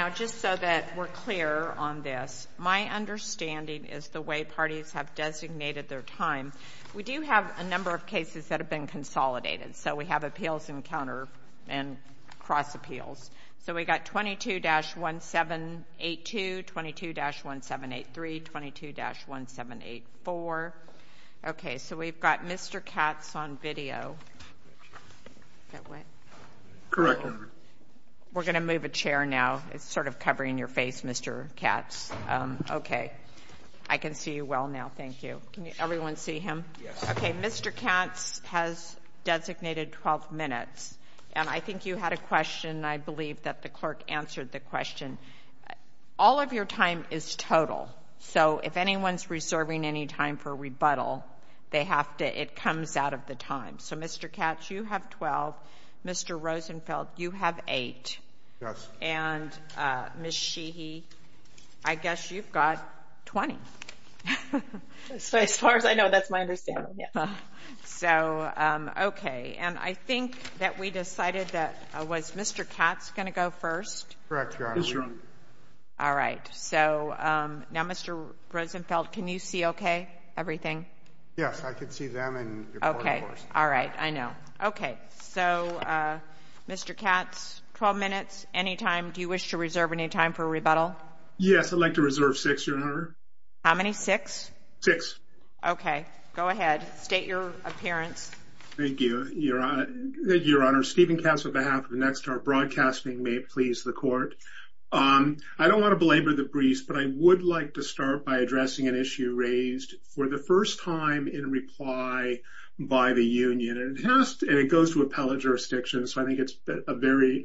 Now just so that we're clear on this, my understanding is the way parties have designated their time. We do have a number of cases that have been consolidated. So we have appeals and counter and cross appeals. So we've got 22-1782, 22-1783, 22-1784. Okay so we've got Mr. Katz on video. We're going to move a chair now. It's sort of covering your face, Mr. Katz. Okay, I can see you well now, thank you. Can everyone see him? Okay, Mr. Katz has designated 12 minutes. And I think you had a question, and I believe that the clerk answered the question. All of your time is total, so if anyone's reserving any time for rebuttal, it comes out of the time. So Mr. Katz, you have 12, Mr. Rosenfeld, you have eight. Yes. And Ms. Sheehy, I guess you've got 20. So as far as I know, that's my understanding, yeah. So, okay, and I think that we decided that, was Mr. Katz going to go first? Correct, Your Honor. Yes, Your Honor. All right, so now Mr. Rosenfeld, can you see okay, everything? Yes, I can see them and- Okay, all right, I know. Okay, so Mr. Katz, 12 minutes, any time, do you wish to reserve any time for rebuttal? Yes, I'd like to reserve six, Your Honor. How many, six? Six. Okay, go ahead, state your appearance. Thank you, Your Honor. Stephen Katz, on behalf of Nexstar Broadcasting, may it please the court. I don't want to belabor the briefs, but I would like to start by addressing an issue raised for the first time in reply by the union. And it goes to appellate jurisdiction, so I think it's a very,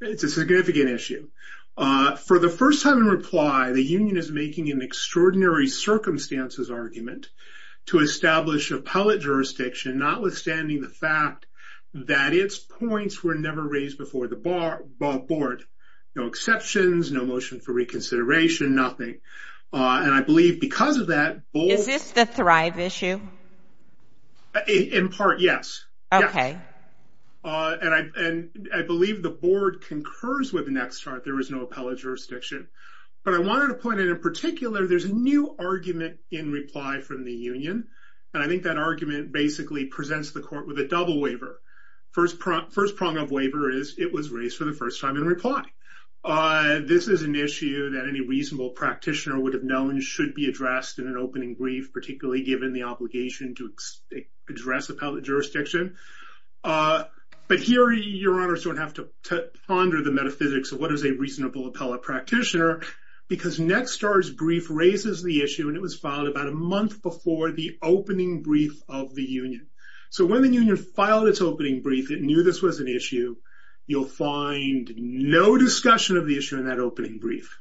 it's a significant issue. For the first time in reply, the union is making an extraordinary circumstances argument to establish appellate jurisdiction, notwithstanding the fact that its points were never raised before the board. No exceptions, no motion for reconsideration, nothing. And I believe because of that- Is this the Thrive issue? In part, yes. Okay. And I believe the board concurs with Nexstar, there is no appellate jurisdiction. But I wanted to point out in particular, there's a new argument in reply from the union. And I think that argument basically presents the court with a double waiver. First prong of waiver is it was raised for the first time in reply. This is an issue that any reasonable practitioner would have known should be addressed in an opening brief, particularly given the obligation to address appellate jurisdiction. But here, your honors don't have to ponder the metaphysics of what is a reasonable appellate practitioner because Nexstar's brief raises the issue and it was filed about a month before the opening brief of the union. So when the union filed its opening brief, it knew this was an issue. You'll find no discussion of the issue in that opening brief.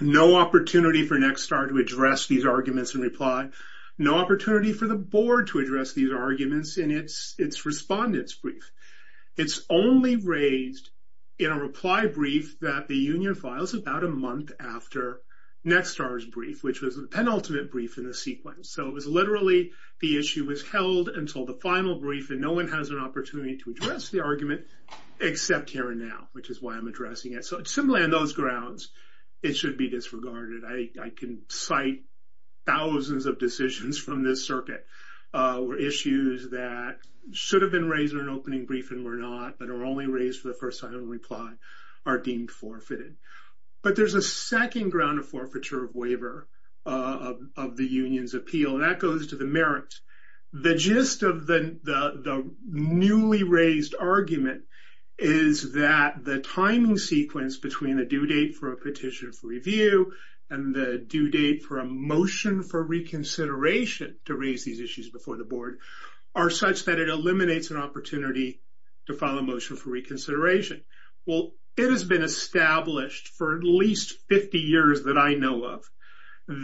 No opportunity for Nexstar to address these arguments in reply. No opportunity for the board to address these arguments in its respondent's brief. It's only raised in a reply brief that the union files about a month after Nexstar's brief, which was the penultimate brief in the sequence. So it was literally the issue was held until the final brief and no one has an opportunity to address the argument except here and now, which is why I'm addressing it. So similarly on those grounds, it should be disregarded. I can cite thousands of decisions from this circuit where issues that should have been raised in an opening brief and were not but are only raised for the first time in reply are deemed forfeited. But there's a second ground of forfeiture of waiver of the union's appeal and that goes to the merits. The gist of the newly raised argument is that the timing sequence between a due date for a petition for review and the due date for a motion for reconsideration to raise these issues before the board are such that it eliminates an opportunity to file a motion for reconsideration. Well, it has been established for at least 50 years that I know of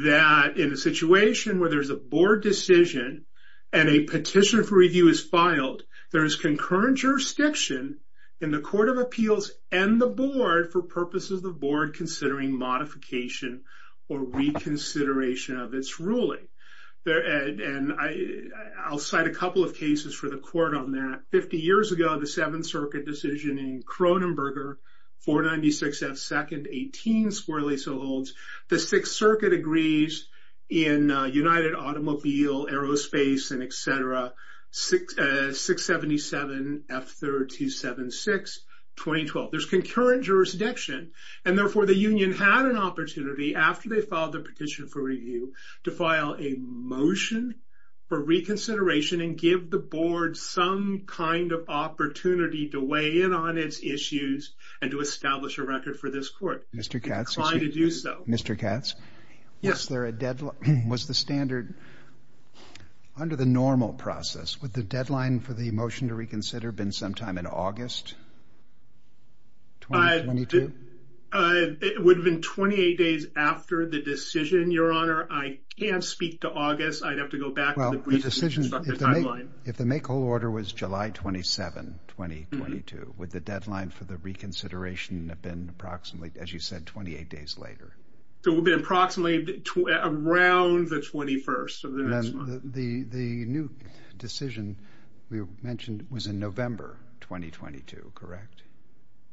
that in a situation where there's a board decision and a petition for review is filed, there is concurrent jurisdiction in the Court of Appeals and the board for purposes of the board considering modification or reconsideration of its ruling. And I'll cite a couple of cases for the court on that. Fifty years ago, the Seventh Circuit decision in Cronenberger, 496 F. 2nd, 18, squarely so holds. The Sixth Circuit agrees in United Automobile, Aerospace, and etc., 677 F. 3rd, 276, 2012. There's concurrent jurisdiction and therefore the union had an opportunity after they filed the petition for review to file a motion for reconsideration and give the board some kind of opportunity to weigh in on its issues and to establish a record for this court. It declined to do so. Mr. Katz, was there a deadline? Was the standard under the normal process, would the deadline for the motion to reconsider have been sometime in August 2022? It would have been 28 days after the decision, Your Honor. I can't speak to August. I'd have to go back to the brief and constructive timeline. If the make-all order was July 27, 2022, would the deadline for the reconsideration have been approximately, as you said, 28 days later? It would have been approximately around the 21st of the next month. The new decision we mentioned was in November 2022, correct?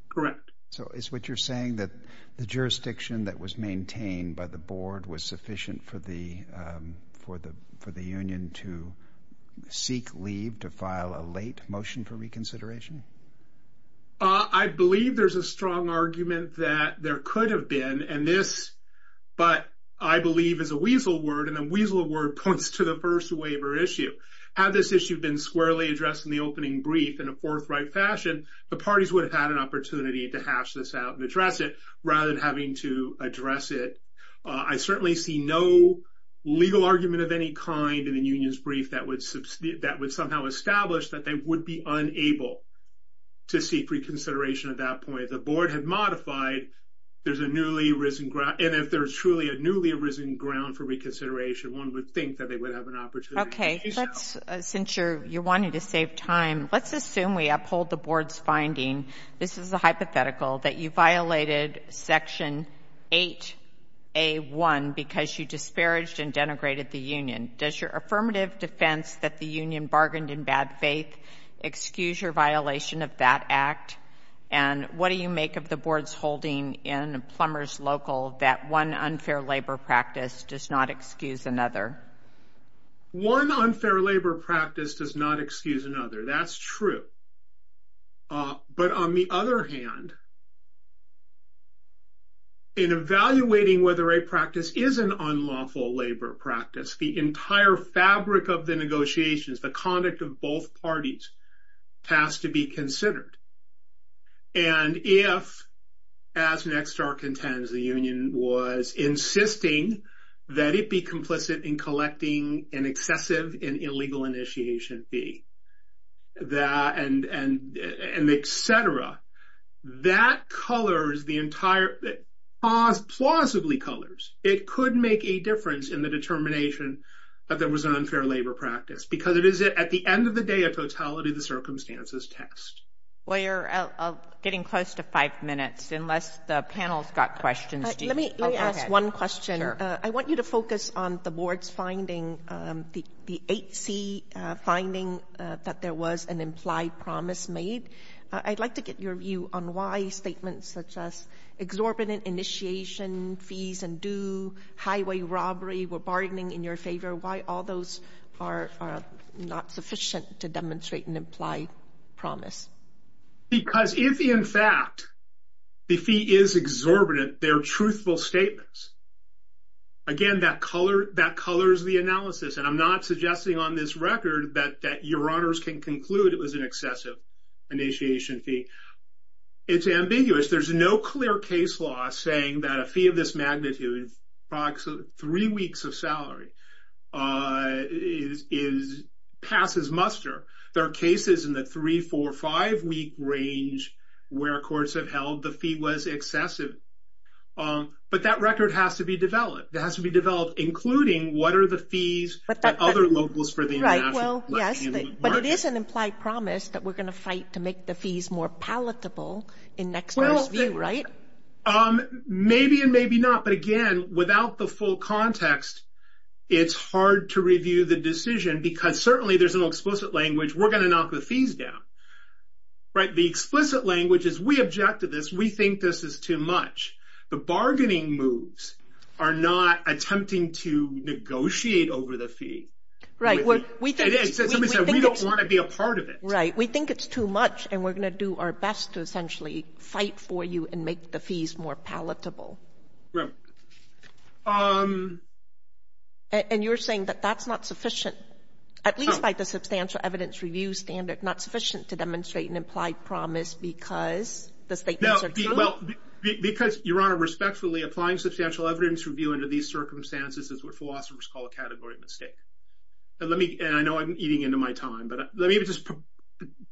Correct. So is what you're saying that the jurisdiction that was maintained by the board was sufficient for the union to seek leave to file a late motion for reconsideration? I believe there's a strong argument that there could have been, and this, but I believe is a weasel word, and a weasel word points to the first waiver issue. Had this issue been squarely addressed in the opening brief in a forthright fashion, the parties would have had an opportunity to hash this out and address it rather than having to address it. I certainly see no legal argument of any kind in the union's brief that would somehow establish that they would be unable to seek reconsideration at that point. If the board had modified, there's a newly risen ground, and if there's truly a newly risen ground for reconsideration, one would think that they would have an opportunity to do so. Okay, since you're wanting to save time, let's assume we uphold the board's finding. This is a hypothetical that you violated Section 8A.1 because you disparaged and denigrated the union. Does your affirmative defense that the union bargained in bad faith excuse your violation of that act? And what do you make of the board's holding in Plumbers Local that one unfair labor practice does not excuse another? One unfair labor practice does not excuse another. That's true. But on the other hand, in evaluating whether a practice is an unlawful labor practice, the entire fabric of the negotiations, the conduct of both parties, has to be considered. And if, as Nexstar contends, the union was insisting that it be complicit in collecting an excessive and illegal initiation fee, and et cetera, that colors the entire... plausibly colors. It could make a difference in the determination that there was an unfair labor practice because it is, at the end of the day, a totality of the circumstances test. Well, you're getting close to five minutes unless the panel's got questions. Let me ask one question. I want you to focus on the board's finding, the 8C finding, that there was an implied promise made. I'd like to get your view on why statements such as exorbitant initiation fees and due highway robbery were bargaining in your favor, why all those are not sufficient to demonstrate an implied promise. Because if, in fact, the fee is exorbitant, they're truthful statements. Again, that colors the analysis, and I'm not suggesting on this record that your honors can conclude it was an excessive initiation fee. It's ambiguous. There's no clear case law saying that a fee of this magnitude, approximately three weeks of salary, passes muster. There are cases in the three-, four-, five-week range where courts have held the fee was excessive. But that record has to be developed. It has to be developed, including what are the fees of other locals for the international market. But it is an implied promise that we're going to fight to make the fees more palatable in next year's view, right? Maybe and maybe not. But, again, without the full context, it's hard to review the decision because certainly there's no explicit language, we're going to knock the fees down. The explicit language is we object to this, we think this is too much. The bargaining moves are not attempting to negotiate over the fee. Right. Somebody said we don't want to be a part of it. Right. We think it's too much, and we're going to do our best to essentially fight for you and make the fees more palatable. Right. And you're saying that that's not sufficient, at least by the substantial evidence review standard, not sufficient to demonstrate an implied promise because the statements are true? Well, because, Your Honor, respectfully, applying substantial evidence review under these circumstances is what philosophers call a category mistake. And I know I'm eating into my time, but let me just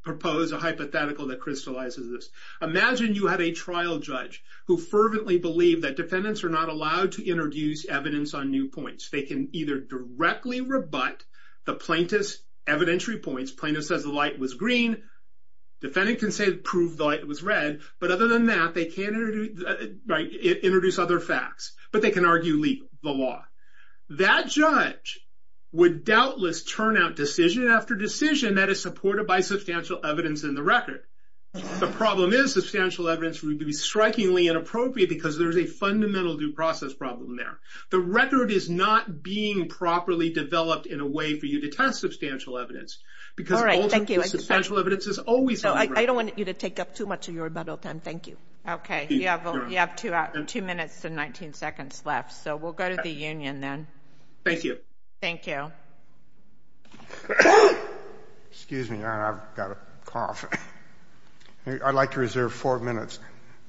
propose a hypothetical that crystallizes this. Imagine you had a trial judge who fervently believed that defendants are not allowed to introduce evidence on new points. They can either directly rebut the plaintiff's evidentiary points, plaintiff says the light was green, defendant can say prove the light was red, but other than that, they can't introduce other facts, but they can argue the law. That judge would doubtless turn out decision after decision that is supported by substantial evidence in the record. The problem is substantial evidence review would be strikingly inappropriate because there's a fundamental due process problem there. The record is not being properly developed in a way for you to test substantial evidence because all substantial evidence is always wrong. I don't want you to take up too much of your rebuttal time. Thank you. Okay. You have two minutes and 19 seconds left, so we'll go to the union then. Thank you. Thank you. Excuse me, Your Honor. I've got a cough. I'd like to reserve four minutes.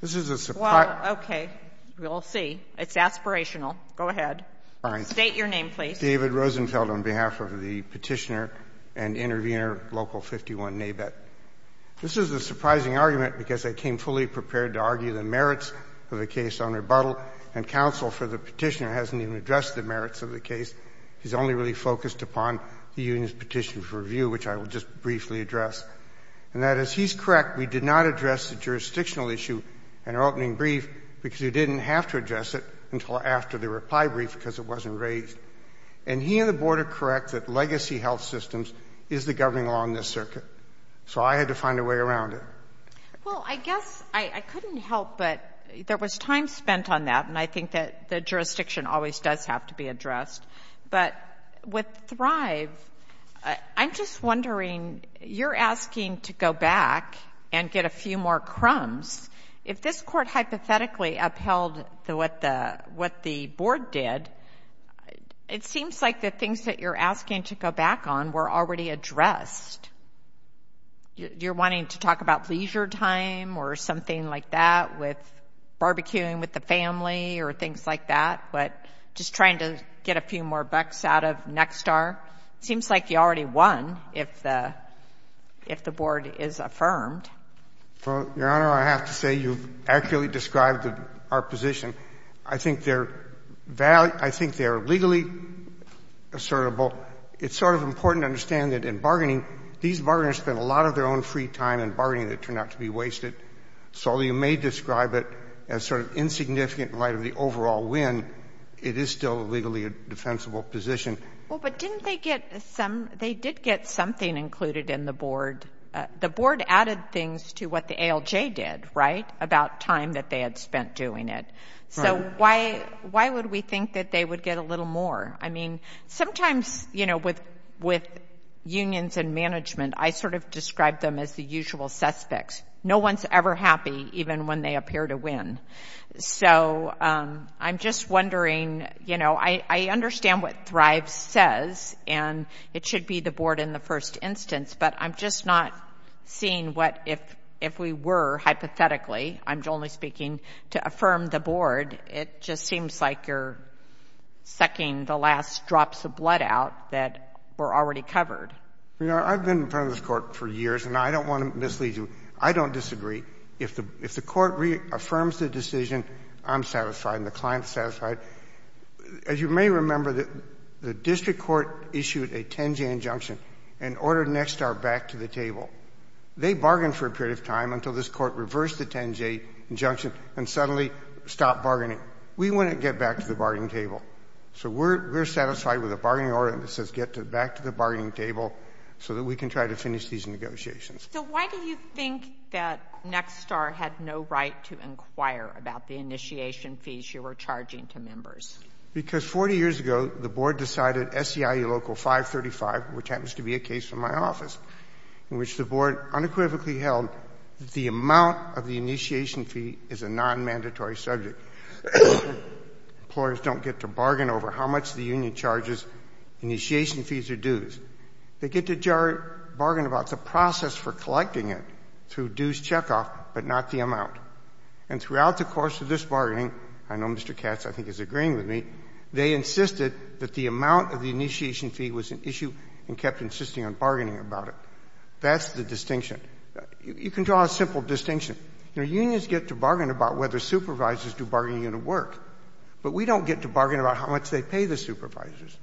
This is a surprise. Well, okay. We'll see. It's aspirational. Go ahead. State your name, please. My name is David Rosenfeld on behalf of the Petitioner and Intervenor Local 51, NABET. This is a surprising argument because I came fully prepared to argue the merits of the case on rebuttal, and counsel for the Petitioner hasn't even addressed the merits of the case. He's only really focused upon the union's petition for review, which I will just briefly address. And that is, he's correct. We did not address the jurisdictional issue in our opening brief because you didn't have to address it until after the reply brief because it wasn't raised. And he and the Board are correct that legacy health systems is the governing law in this circuit. So I had to find a way around it. Well, I guess I couldn't help, but there was time spent on that, and I think that the jurisdiction always does have to be addressed. But with Thrive, I'm just wondering, you're asking to go back and get a few more crumbs. If this Court hypothetically upheld what the Board did, it seems like the things that you're asking to go back on were already addressed. You're wanting to talk about leisure time or something like that with barbecuing with the family or things like that, but just trying to get a few more bucks out of Nexstar. It seems like you already won if the Board is affirmed. Well, Your Honor, I have to say you've accurately described our position. I think they're legally assertable. It's sort of important to understand that in bargaining, these bargainers spend a lot of their own free time in bargaining that turned out to be wasted. So you may describe it as sort of insignificant in light of the overall win. It is still a legally defensible position. Well, but didn't they get some — they did get something included in the Board. The Board added things to what the ALJ did, right, about time that they had spent doing it. So why would we think that they would get a little more? I mean, sometimes, you know, with unions and management, I sort of describe them as the usual suspects. No one's ever happy even when they appear to win. So I'm just wondering, you know, I understand what Thrive says, and it should be the Board in the first instance, but I'm just not seeing what if we were hypothetically — I'm only speaking to affirm the Board. It just seems like you're sucking the last drops of blood out that were already covered. Your Honor, I've been in front of this Court for years, and I don't want to mislead you. I don't disagree. If the Court reaffirms the decision, I'm satisfied and the client's satisfied. As you may remember, the District Court issued a 10-J injunction and ordered Nexstar back to the table. They bargained for a period of time until this Court reversed the 10-J injunction and suddenly stopped bargaining. We wouldn't get back to the bargaining table. So we're satisfied with a bargaining order that says get back to the bargaining table so that we can try to finish these negotiations. So why do you think that Nexstar had no right to inquire about the initiation fees you were charging to members? Because 40 years ago, the Board decided SEIU Local 535, which happens to be a case from my office, in which the Board unequivocally held that the amount of the initiation fee is a nonmandatory subject. Employers don't get to bargain over how much the union charges initiation fees or dues. They get to bargain about the process for collecting it through dues checkoff, but not the amount. And throughout the course of this bargaining, I know Mr. Katz, I think, is agreeing with me, they insisted that the amount of the initiation fee was an issue and kept insisting on bargaining about it. That's the distinction. You can draw a simple distinction. You know, unions get to bargain about whether supervisors do bargaining in a work, but we don't get to bargain about how much they pay the supervisors.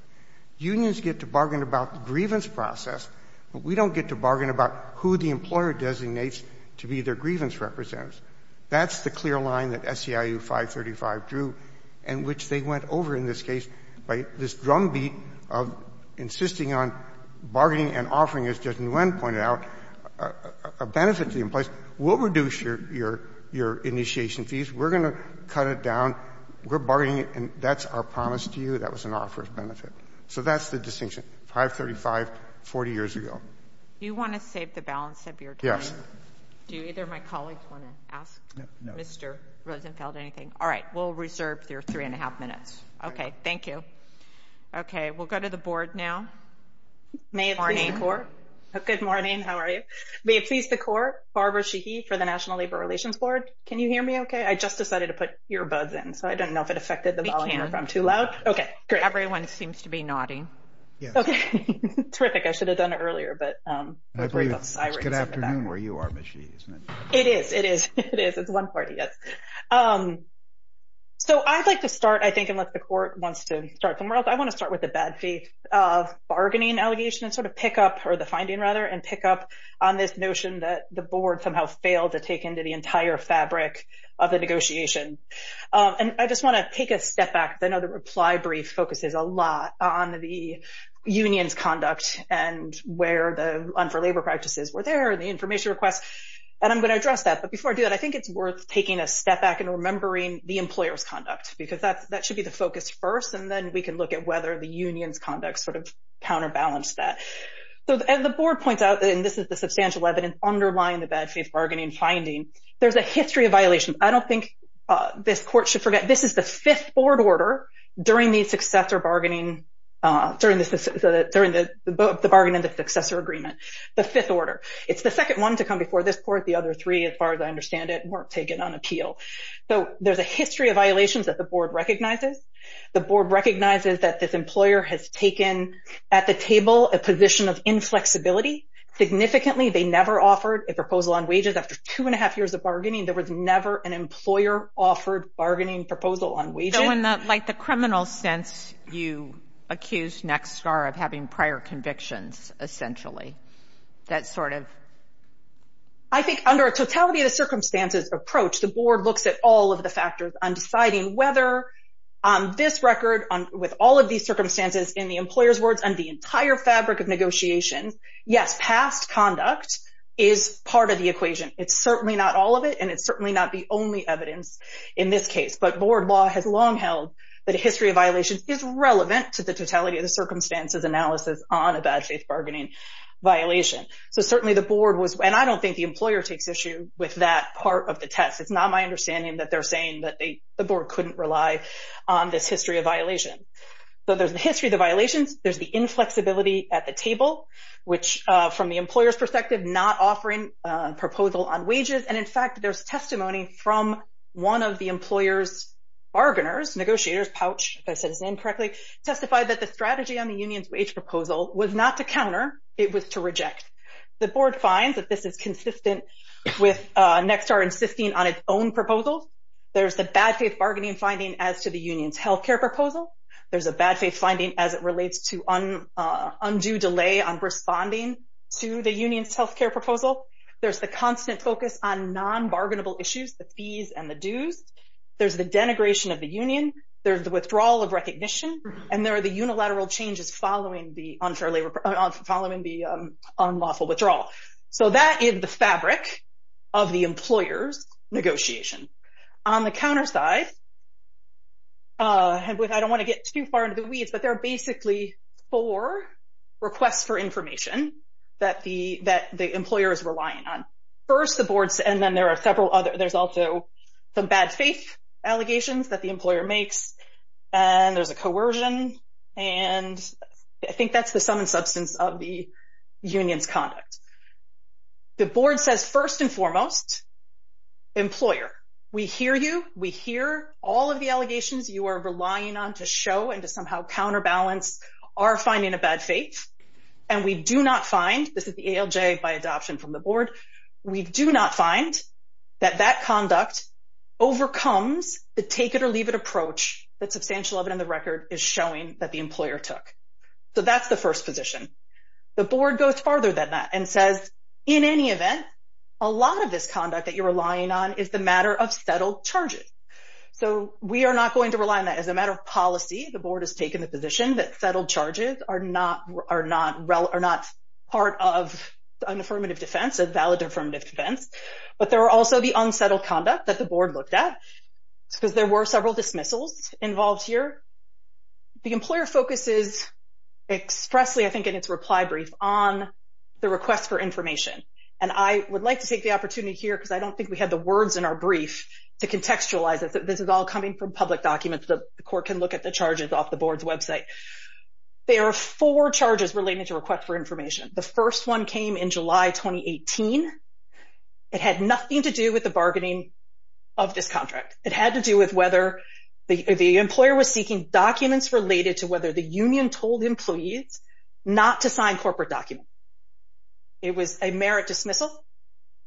Unions get to bargain about the grievance process, but we don't get to bargain about who the employer designates to be their grievance representatives. That's the clear line that SEIU 535 drew and which they went over in this case by this drumbeat of insisting on bargaining and offering, as Justice Nguyen pointed out, a benefit to the employees. We'll reduce your initiation fees. We're going to cut it down. We're bargaining it, and that's our promise to you. That was an offer of benefit. So that's the distinction, 535 40 years ago. Do you want to save the balance of your time? Yes. Do either of my colleagues want to ask Mr. Rosenfeld anything? All right. We'll reserve your three and a half minutes. Okay. Thank you. Okay. We'll go to the board now. Good morning. How are you? May it please the court, Barbara Sheehy for the National Labor Relations Board. Can you hear me okay? I just decided to put ear buds in, so I don't know if it affected the volume or if I'm too loud. We can. Okay. Great. Everyone seems to be nodding. Yes. Okay. Terrific. I should have done it earlier. Good afternoon where you are, Ms. Sheehy. It is. It is. It is. It's one party. Yes. So I'd like to start, I think, unless the court wants to start somewhere else. I want to start with the bad faith of bargaining allegation and sort of pick up, or the finding, rather, and pick up on this notion that the board somehow failed to take into the entire fabric of the negotiation. And I just want to take a step back. I know the reply brief focuses a lot on the union's conduct and where the un-for-labor practices were there and the information requests. And I'm going to address that. But before I do that, I think it's worth taking a step back and remembering the employer's conduct, because that should be the focus first, and then we can look at whether the union's conduct sort of counterbalanced that. So the board points out, and this is the substantial evidence underlying the bad faith bargaining finding, there's a history of violations. I don't think this court should forget. This is the fifth board order during the successor bargaining, during the bargaining of the successor agreement, the fifth order. It's the second one to come before this court. The other three, as far as I understand it, weren't taken on appeal. So there's a history of violations that the board recognizes. The board recognizes that this employer has taken at the table a position of inflexibility. Significantly, they never offered a proposal on wages after two and a half years of bargaining. There was never an employer-offered bargaining proposal on wages. So in the criminal sense, you accused Nexstar of having prior convictions, essentially. That sort of... I think under a totality-of-circumstances approach, the board looks at all of the factors on deciding whether, on this record, with all of these circumstances in the employer's words, and the entire fabric of negotiation, yes, past conduct is part of the equation. It's certainly not all of it, and it's certainly not the only evidence in this case. But board law has long held that a history of violations is relevant to the totality of the circumstances analysis on a bad faith bargaining violation. So certainly the board was... And I don't think the employer takes issue with that part of the test. It's not my understanding that they're saying that the board couldn't rely on this history of violation. So there's the history of the violations. There's the inflexibility at the table, which, from the employer's perspective, not offering a proposal on wages. And in fact, there's testimony from one of the employer's bargainers, negotiator's pouch, if I said his name correctly, testified that the strategy on the union's wage proposal was not to counter. It was to reject. The board finds that this is consistent with Nexstar insisting on its own proposal. There's the bad faith bargaining finding as to the union's healthcare proposal. There's a bad faith finding as it relates to undue delay on responding to the union's request. There's the constant focus on non-bargainable issues, the fees and the dues. There's the denigration of the union. There's the withdrawal of recognition. And there are the unilateral changes following the unlawful withdrawal. So that is the fabric of the employer's negotiation. On the counter side, I don't want to get too far into the weeds, but there are basically four requests for information that the employer is relying on. First, the boards, and then there are several other. There's also the bad faith allegations that the employer makes, and there's a coercion, and I think that's the sum and substance of the union's conduct. The board says, first and foremost, employer, we hear you, we hear all of the allegations you are relying on to show and to somehow counterbalance our finding a bad faith, and we do not find, this is the ALJ by adoption from the board, we do not find that that conduct overcomes the take it or leave it approach that substantial of it in the record is showing that the employer took. So that's the first position. The board goes farther than that and says, in any event, a lot of this conduct that you're relying on is the matter of settled charges. So we are not going to rely on that as a matter of policy. The board has taken the position that settled charges are not part of an affirmative defense, a valid affirmative defense, but there are also the unsettled conduct that the board looked at because there were several dismissals involved here. The employer focuses expressly, I think, in its reply brief on the request for information, and I would like to take the opportunity here because I don't think we had the words in our brief to contextualize it. This is all coming from public documents. The court can look at the charges off the board's website. There are four charges related to request for information. The first one came in July 2018. It had nothing to do with the bargaining of this contract. It had to do with whether the employer was seeking documents related to whether the union told employees not to sign corporate documents. It was a merit dismissal.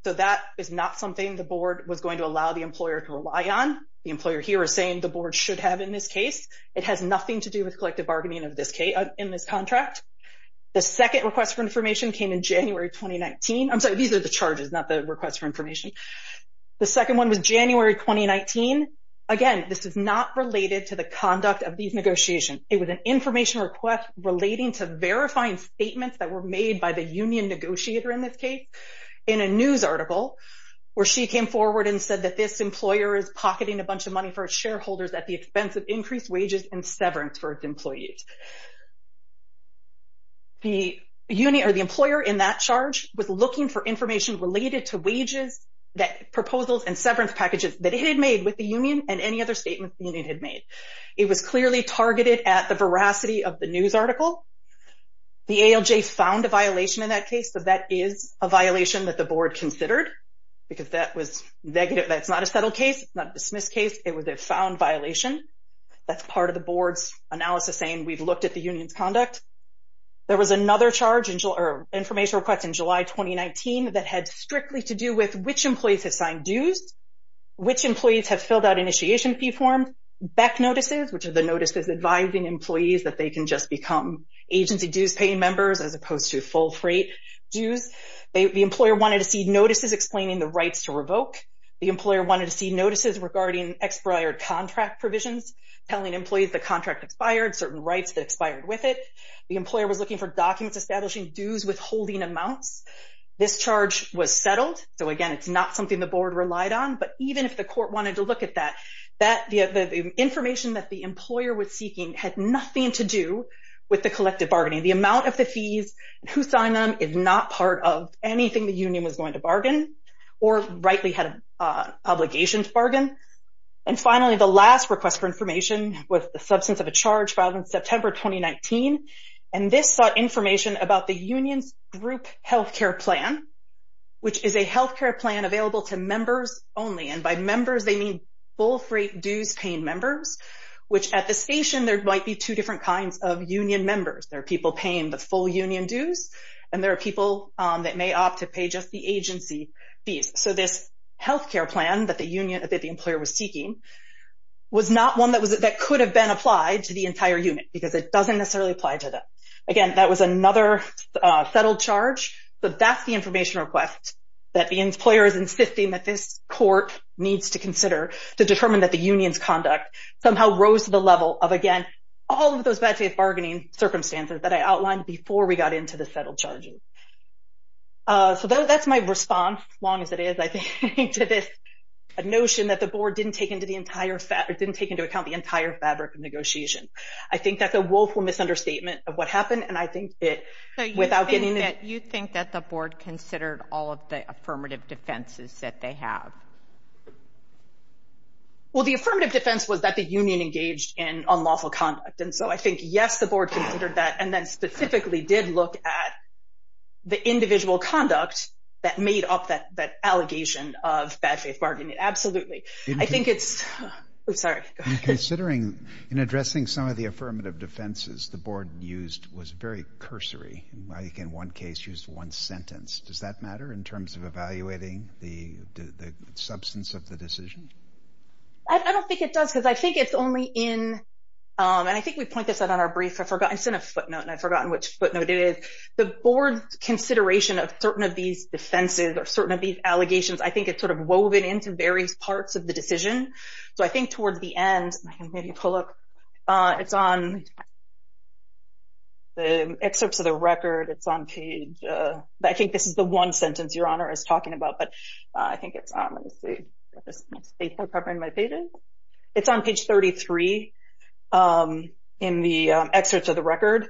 So that is not something the board was going to allow the employer to rely on. The employer here is saying the board should have in this case. It has nothing to do with collective bargaining in this contract. The second request for information came in January 2019. I'm sorry, these are the charges, not the request for information. The second one was January 2019. Again, this is not related to the conduct of these negotiations. It was an information request relating to verifying statements that were made by the union negotiator in this case in a news article where she came forward and said that this employer is pocketing a bunch of money for shareholders at the expense of increased wages and severance for its employees. The employer in that charge was looking for information related to wages, proposals, and severance packages that it had made with the union and any other statements the union had made. It was clearly targeted at the veracity of the news article. The ALJ found a violation in that case, so that is a violation that the board considered because that was negative. That's not a settled case. It's not a dismissed case. It was a found violation. That's part of the board's analysis saying we've looked at the union's conduct. There was another charge or information request in July 2019 that had strictly to do with which employees have filled out initiation fee forms, BEC notices, which are the notices advising employees that they can just become agency dues-paying members as opposed to full freight dues. The employer wanted to see notices explaining the rights to revoke. The employer wanted to see notices regarding expired contract provisions, telling employees the contract expired, certain rights that expired with it. The employer was looking for documents establishing dues withholding amounts. This charge was settled, so, again, it's not something the board relied on. But even if the court wanted to look at that, the information that the employer was seeking had nothing to do with the collective bargaining. The amount of the fees, who signed them, is not part of anything the union was going to bargain or rightly had an obligation to bargain. And finally, the last request for information was the substance of a charge filed in September 2019. And this sought information about the union's group health care plan, which is a health care plan available to members only, and by members they mean full freight dues-paying members, which at the station there might be two different kinds of union members. There are people paying the full union dues, and there are people that may opt to pay just the agency fees. So this health care plan that the employer was seeking was not one that could have been applied to the entire unit because it doesn't necessarily apply to them. Again, that was another settled charge. So that's the information request that the employer is insisting that this court needs to consider to determine that the union's conduct somehow rose to the level of, again, all of those bad faith bargaining circumstances that I outlined before we got into the settled charges. So that's my response, long as it is, I think, to this notion that the board didn't take into account the entire fabric of negotiation. I think that's a woeful misunderstatement of what happened, and I think it, without getting into it. Do you think that the board considered all of the affirmative defenses that they have? Well, the affirmative defense was that the union engaged in unlawful conduct, and so I think, yes, the board considered that, and then specifically did look at the individual conduct that made up that allegation of bad faith bargaining. Absolutely. I think it's... Oops, sorry. In considering, in addressing some of the affirmative defenses, the board used, was very cursory. In one case, used one sentence. Does that matter in terms of evaluating the substance of the decision? I don't think it does, because I think it's only in, and I think we point this out on our brief. I sent a footnote, and I've forgotten which footnote it is. The board's consideration of certain of these defenses or certain of these allegations, I think it's sort of woven into various parts of the decision. So I think towards the end, I can maybe pull up, it's on the excerpts of the record. It's on page... I think this is the one sentence Your Honor is talking about, but I think it's... Let me see. It's on page 33 in the excerpts of the record,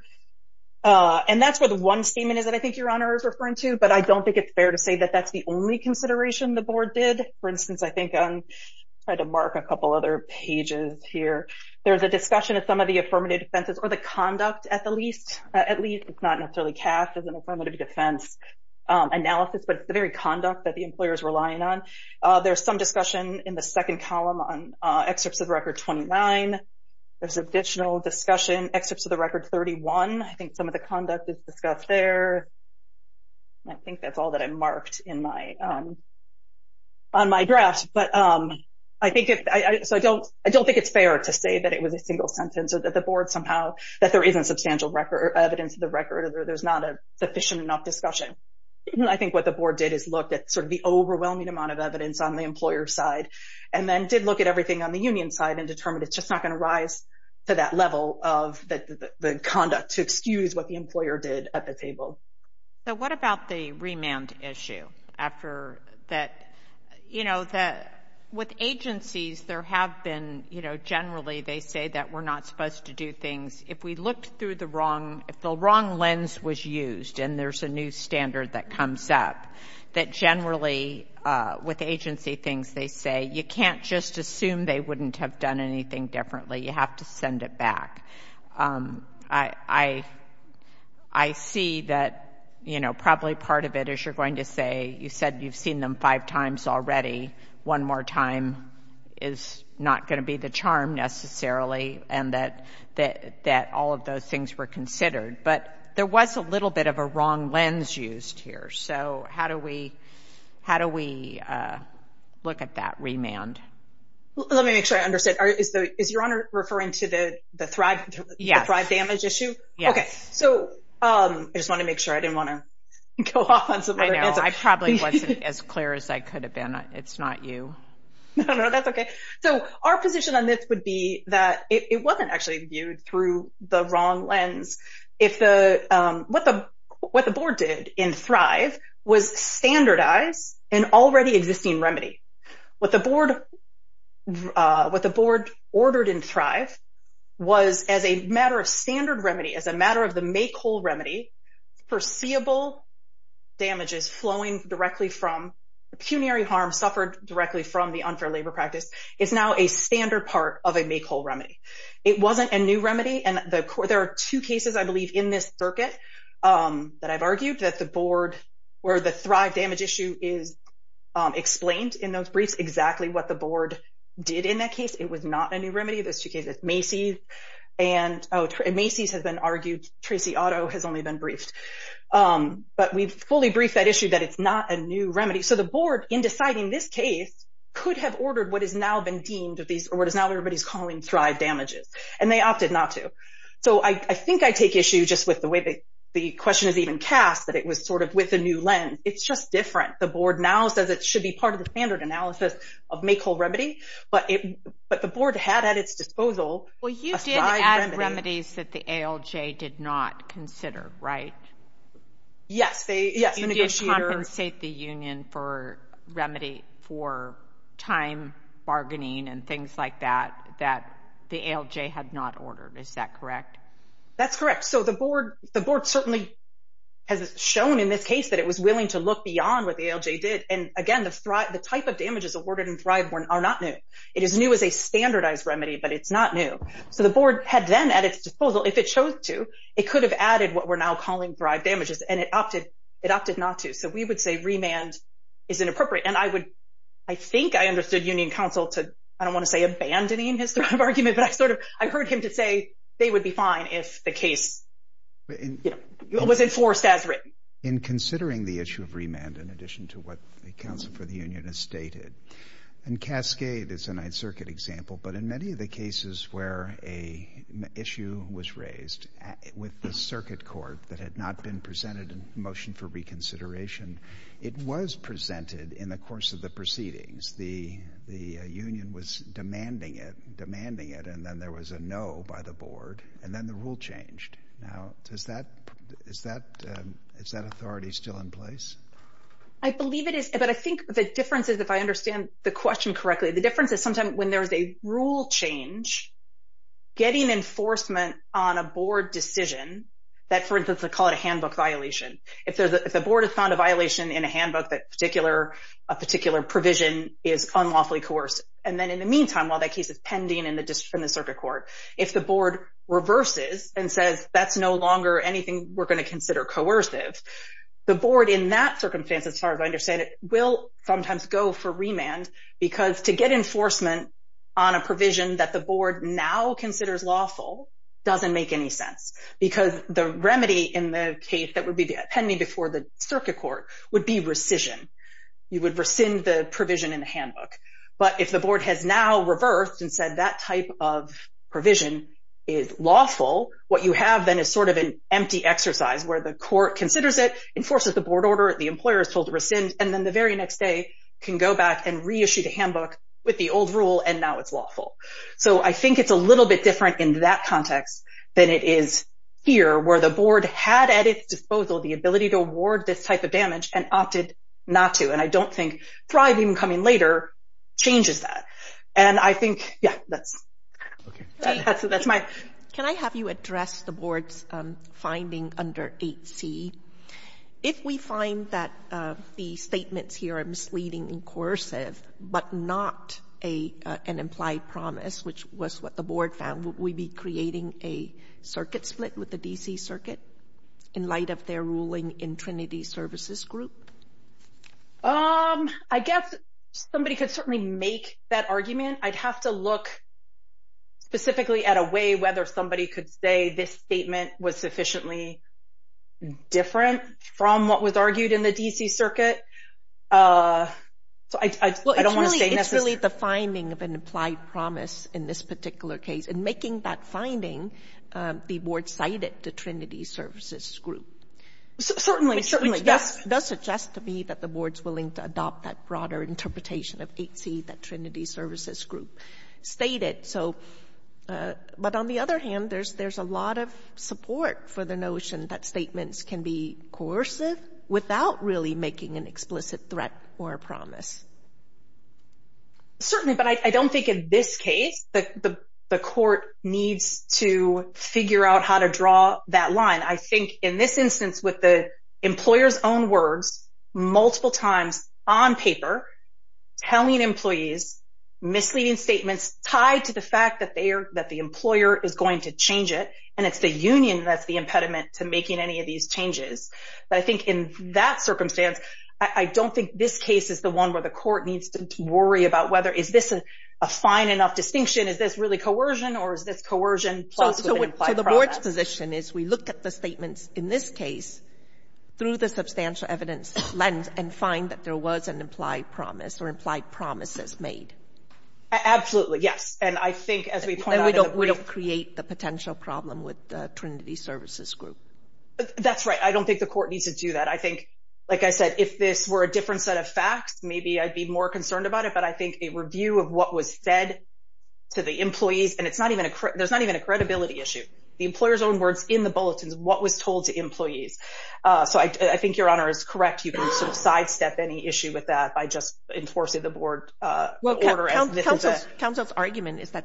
and that's where the one statement is that I think Your Honor is referring to, but I don't think it's fair to say that that's the only consideration the board did. For instance, I think I'm trying to mark a couple other pages here. There's a discussion of some of the affirmative defenses, or the conduct at the least. At least, it's not necessarily cast as an affirmative defense analysis, but it's the very conduct that the employer is relying on. There's some discussion in the second column on excerpts of record 29. There's additional discussion, excerpts of the record 31. I think some of the conduct is discussed there. I think that's all that I marked on my draft, but I don't think it's fair to say that it was a single sentence, or that the board somehow, that there isn't substantial evidence of the record, or there's not a sufficient enough discussion. I think what the board did is look at the overwhelming amount of evidence on the employer's side, and then did look at everything on the union side, and determined it's just not going to rise to that level of the conduct to excuse what the employer did at the table. What about the remand issue? With agencies, there have been, generally, they say that we're not supposed to do things. If we looked through the wrong lens was used, and there's a new standard that comes up, that generally, with agency things, they say, you can't just assume they wouldn't have done anything differently. You have to send it back. I see that, you know, probably part of it, as you're going to say, you said you've seen them five times already. One more time is not going to be the charm, necessarily, and that all of those things were considered. But there was a little bit of a wrong lens used here. So how do we look at that remand? Let me make sure I understand. Is Your Honor referring to the Thrive Damage issue? Yes. Okay. So I just want to make sure. I didn't want to go off on some other answer. I know. I probably wasn't as clear as I could have been. It's not you. No, no, that's okay. So our position on this would be that it wasn't actually viewed through the wrong lens. What the board did in Thrive was standardize an already existing remedy. What the board ordered in Thrive was as a matter of standard remedy, as a matter of the make-whole remedy, foreseeable damages flowing directly from pecuniary harm suffered directly from the unfair labor practice, is now a standard part of a make-whole remedy. It wasn't a new remedy. And there are two cases, I believe, in this circuit that I've argued, that the board, where the Thrive Damage issue is explained in those briefs, exactly what the board did in that case. It was not a new remedy. There's two cases. Macy's has been argued. Tracy Otto has only been briefed. But we've fully briefed that issue that it's not a new remedy. So the board, in deciding this case, could have ordered what has now been deemed or what is now everybody's calling Thrive Damages, and they opted not to. So I think I take issue just with the way the question is even cast, that it was sort of with a new lens. It's just different. The board now says it should be part of the standard analysis of make-whole remedy. But the board had at its disposal a Thrive remedy. Well, you did add remedies that the ALJ did not consider, right? Yes. You did compensate the union for time bargaining and things like that, that the ALJ had not ordered. Is that correct? That's correct. So the board certainly has shown in this case that it was willing to look beyond what the ALJ did. And, again, the type of damages awarded in Thrive are not new. It is new as a standardized remedy, but it's not new. So the board had then at its disposal, if it chose to, it could have added what we're now calling Thrive Damages, and it opted not to. So we would say remand is inappropriate. And I think I understood union counsel to, I don't want to say abandoning his Thrive argument, but I heard him to say they would be fine if the case was enforced as written. In considering the issue of remand, in addition to what the counsel for the union has stated, and Cascade is a Ninth Circuit example, but in many of the cases where an issue was raised with the circuit court that had not been presented in the motion for reconsideration, it was presented in the course of the proceedings. The union was demanding it, demanding it, and then there was a no by the board, and then the rule changed. Now, is that authority still in place? I believe it is, but I think the difference is, if I understand the question correctly, the difference is sometimes when there's a rule change, getting enforcement on a board decision, that, for instance, they call it a handbook violation. If the board has found a violation in a handbook, a particular provision is unlawfully coerced, and then in the meantime, while that case is pending in the circuit court, if the board reverses and says that's no longer anything we're going to consider coercive, the board in that circumstance, as far as I understand it, will sometimes go for remand because to get enforcement on a provision that the board now considers lawful doesn't make any sense because the remedy in the case that would be pending before the circuit court would be rescission. You would rescind the provision in the handbook. But if the board has now reversed and said that type of provision is lawful, what you have then is sort of an empty exercise where the court considers it, enforces the board order, the employer is told to rescind, and then the very next day can go back and reissue the handbook with the old rule, and now it's lawful. So I think it's a little bit different in that context than it is here, where the board had at its disposal the ability to award this type of damage and opted not to, and I don't think Thrive, even coming later, changes that. And I think, yeah, that's my question. Can I have you address the board's finding under 8C? If we find that the statements here are misleading and coercive but not an implied promise, which was what the board found, would we be creating a circuit split with the D.C. Circuit in light of their ruling in Trinity Services Group? I guess somebody could certainly make that argument. I'd have to look specifically at a way whether somebody could say this statement was sufficiently different from what was argued in the D.C. Circuit. So I don't want to say necessarily. It's really the finding of an implied promise in this particular case, and making that finding be board-sided to Trinity Services Group. Certainly, yes. It does suggest to me that the board's willing to adopt that broader interpretation of 8C, that Trinity Services Group stated. But on the other hand, there's a lot of support for the notion that statements can be coercive without really making an explicit threat or a promise. Certainly, but I don't think in this case the court needs to figure out how to draw that line. I think in this instance, with the employer's own words, multiple times on paper, telling employees misleading statements tied to the fact that the employer is going to change it, and it's the union that's the impediment to making any of these changes. But I think in that circumstance, I don't think this case is the one where the court needs to worry about whether is this a fine enough distinction. Is this really coercion, or is this coercion plus an implied promise? Our position is we look at the statements in this case through the substantial evidence lens and find that there was an implied promise or implied promises made. Absolutely, yes. And I think as we point out in the brief. And we don't create the potential problem with Trinity Services Group. That's right. I don't think the court needs to do that. I think, like I said, if this were a different set of facts, maybe I'd be more concerned about it. But I think a review of what was said to the employees, and there's not even a credibility issue. The employer's own words in the bulletins, what was told to employees. So I think Your Honor is correct. You can sort of sidestep any issue with that by just enforcing the board order. Well, counsel's argument is that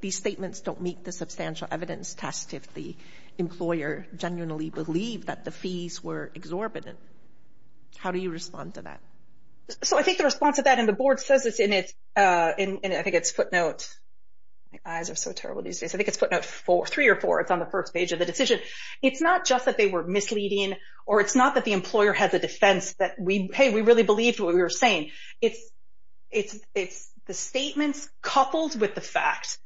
these statements don't meet the substantial evidence test if the employer genuinely believed that the fees were exorbitant. How do you respond to that? So I think the response to that, and the board says this in its footnote. My eyes are so terrible these days. I think it's footnote three or four. It's on the first page of the decision. It's not just that they were misleading, or it's not that the employer had the defense that, hey, we really believed what we were saying. It's the statements coupled with the fact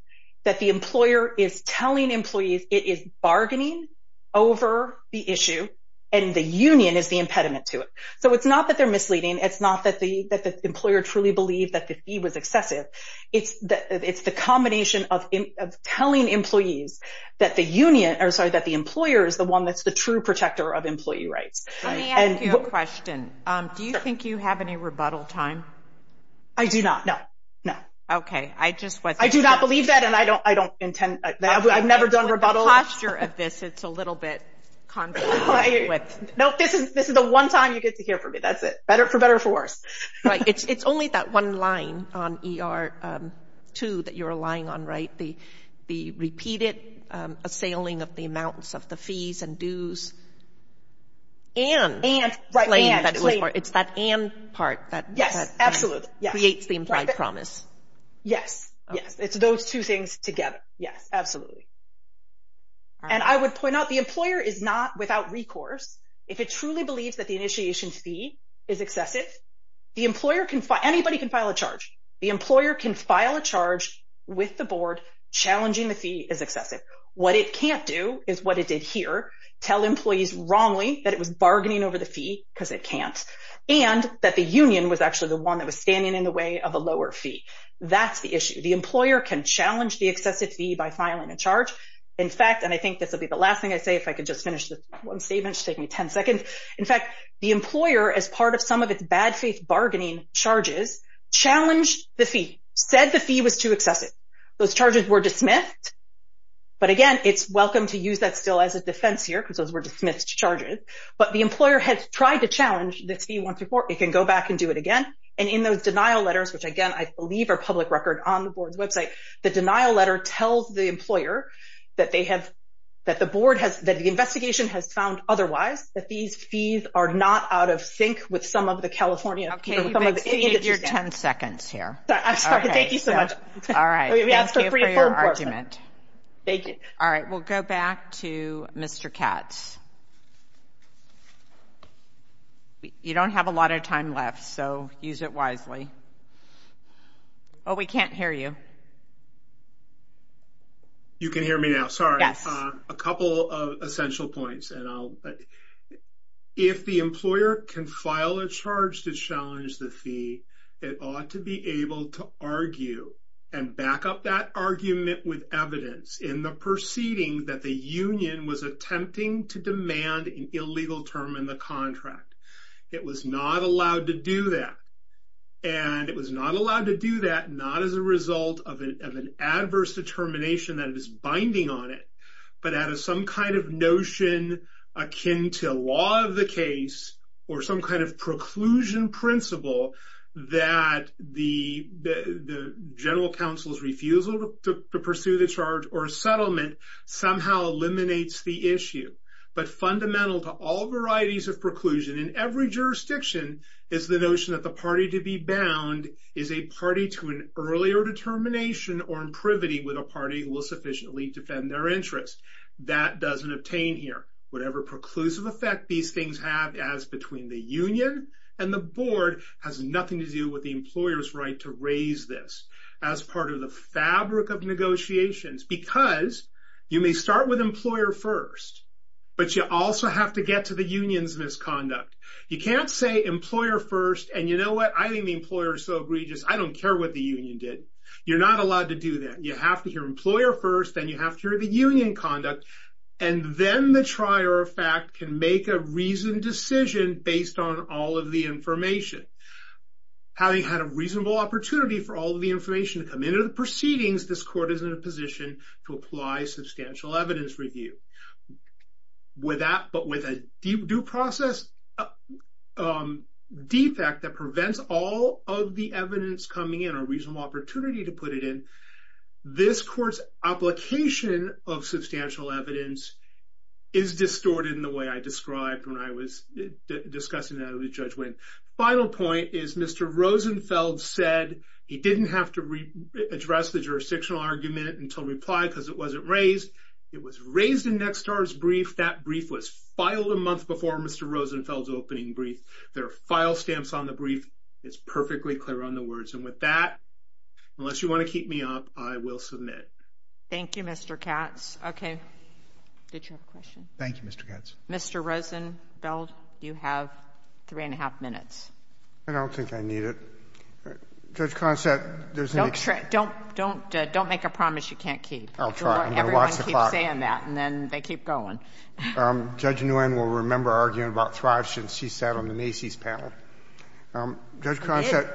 that the employer is telling employees it is bargaining over the issue, and the union is the impediment to it. So it's not that they're misleading. It's not that the employer truly believed that the fee was excessive. It's the combination of telling employees that the employer is the one that's the true protector of employee rights. Let me ask you a question. Do you think you have any rebuttal time? I do not, no. Okay. I do not believe that, and I've never done rebuttal. The posture of this, it's a little bit confusing. No, this is the one time you get to hear from me. That's it, for better or for worse. Right. It's only that one line on ER 2 that you're relying on, right, the repeated assailing of the amounts of the fees and dues and claim that it was part. It's that and part that creates the implied promise. Yes, yes. It's those two things together. Yes, absolutely. And I would point out the employer is not without recourse. If it truly believes that the initiation fee is excessive, the employer can file, anybody can file a charge. The employer can file a charge with the board challenging the fee is excessive. What it can't do is what it did here, tell employees wrongly that it was bargaining over the fee because it can't, and that the union was actually the one that was standing in the way of a lower fee. That's the issue. And I think this will be the last thing I say. If I could just finish this one statement, it should take me 10 seconds. In fact, the employer, as part of some of its bad faith bargaining charges, challenged the fee, said the fee was too excessive. Those charges were dismissed. But again, it's welcome to use that still as a defense here because those were dismissed charges. But the employer has tried to challenge this fee once before. It can go back and do it again. And in those denial letters, which, again, I believe are public record on the board's website, the denial letter tells the employer that they have, that the board has, that the investigation has found otherwise, that these fees are not out of sync with some of the California. I'll give you your 10 seconds here. I'm sorry. Thank you so much. All right. Thank you for your argument. Thank you. All right. We'll go back to Mr. Katz. You don't have a lot of time left, so use it wisely. Oh, we can't hear you. You can hear me now. Sorry. Yes. A couple of essential points, and I'll, if the employer can file a charge to challenge the fee, it ought to be able to argue and back up that argument with evidence in the proceeding that the union was attempting to demand an illegal term in the contract. It was not allowed to do that, and it was not allowed to do that, not as a result of an adverse determination that is binding on it, but out of some kind of notion akin to law of the case or some kind of preclusion principle that the general counsel's refusal to pursue the charge or settlement somehow eliminates the issue. But fundamental to all varieties of preclusion in every jurisdiction is the notion that the party to be bound is a party to an earlier determination or imprivity with a party who will sufficiently defend their interest. That doesn't obtain here. Whatever preclusive effect these things have as between the union and the board has nothing to do with the employer's right to raise this as part of the fabric of negotiations because you may start with employer first, but you also have to get to the union's misconduct. You can't say employer first, and you know what, I think the employer is so egregious, I don't care what the union did. You're not allowed to do that. You have to hear employer first, then you have to hear the union conduct, and then the trier of fact can make a reasoned decision based on all of the information. Having had a reasonable opportunity for all of the information to come into the proceedings, this court is in a position to apply substantial evidence review. But with a due process defect that prevents all of the evidence coming in or a reasonable opportunity to put it in, this court's application of substantial evidence is distorted in the way I described when I was discussing that at the judgment. Final point is Mr. Rosenfeld said he didn't have to address the jurisdictional argument until replied because it wasn't raised. It was raised in Nextar's brief. That brief was filed a month before Mr. Rosenfeld's opening brief. There are file stamps on the brief. It's perfectly clear on the words. And with that, unless you want to keep me up, I will submit. Thank you, Mr. Katz. Okay. Did you have a question? Thank you, Mr. Katz. Mr. Rosenfeld, you have three-and-a-half minutes. I don't think I need it. Judge Consett, there's no need. Don't make a promise you can't keep. I'll try. Everyone keeps saying that, and then they keep going. Judge Nguyen will remember arguing about Thrive since she sat on the Macy's panel. Judge Consett,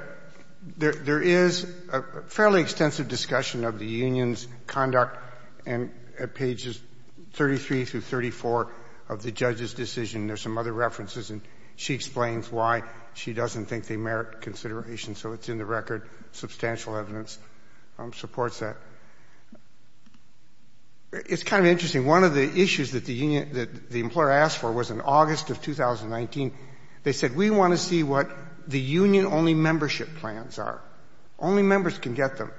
there is a fairly extensive discussion of the union's conduct at pages 33 through 34 of the judge's decision. There are some other references. And she explains why she doesn't think they merit consideration. So it's in the record. Substantial evidence supports that. It's kind of interesting. One of the issues that the employer asked for was in August of 2019, they said, we want to see what the union-only membership plans are. Only members can get them.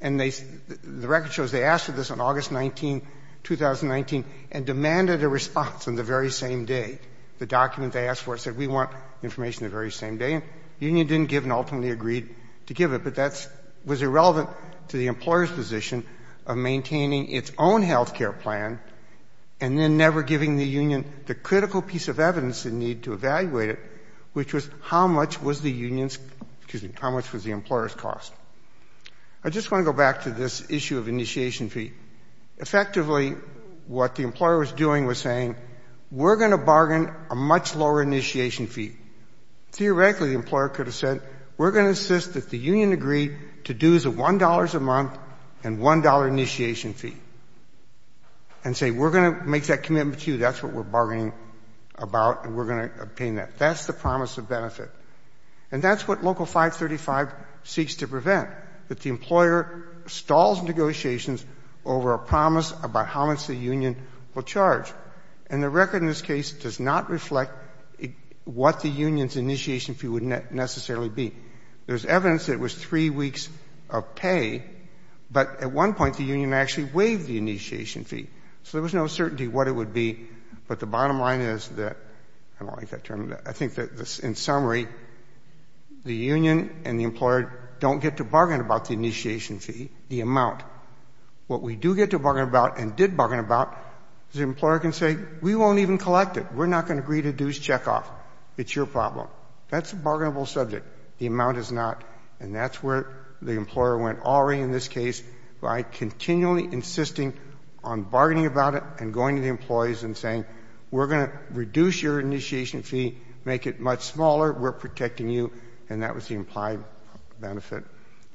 And the record shows they asked for this on August 19, 2019, and demanded a response on the very same day. The document they asked for said, we want information the very same day. And the union didn't give and ultimately agreed to give it. But that was irrelevant to the employer's position of maintaining its own health care plan and then never giving the union the critical piece of evidence they need to evaluate it, which was how much was the union's — excuse me, how much was the employer's cost. I just want to go back to this issue of initiation fee. Effectively, what the employer was doing was saying, we're going to bargain a much lower initiation fee. Theoretically, the employer could have said, we're going to insist that the union agree to dues of $1 a month and $1 initiation fee, and say, we're going to make that commitment to you. That's what we're bargaining about, and we're going to obtain that. That's the promise of benefit. And that's what Local 535 seeks to prevent, that the employer stalls negotiations over a promise about how much the union will charge. And the record in this case does not reflect what the union's initiation fee would necessarily be. There's evidence it was three weeks of pay, but at one point the union actually waived the initiation fee. So there was no certainty what it would be, but the bottom line is that — I don't like that term. I think that in summary, the union and the employer don't get to bargain about the initiation fee, the amount. What we do get to bargain about and did bargain about is the employer can say, we won't even collect it. We're not going to agree to dues checkoff. It's your problem. That's a bargainable subject. The amount is not. And that's where the employer went, already in this case, by continually insisting on bargaining about it and going to the employees and saying, we're going to reduce your initiation fee, make it much smaller. We're protecting you. And that was the implied benefit.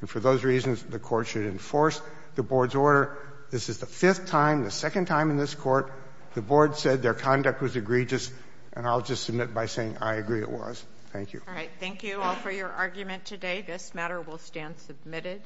And for those reasons, the Court should enforce the Board's order. This is the fifth time, the second time in this Court, the Board said their conduct was egregious. And I'll just submit by saying I agree it was. Thank you. All right. Thank you all for your argument today. This matter will stand submitted.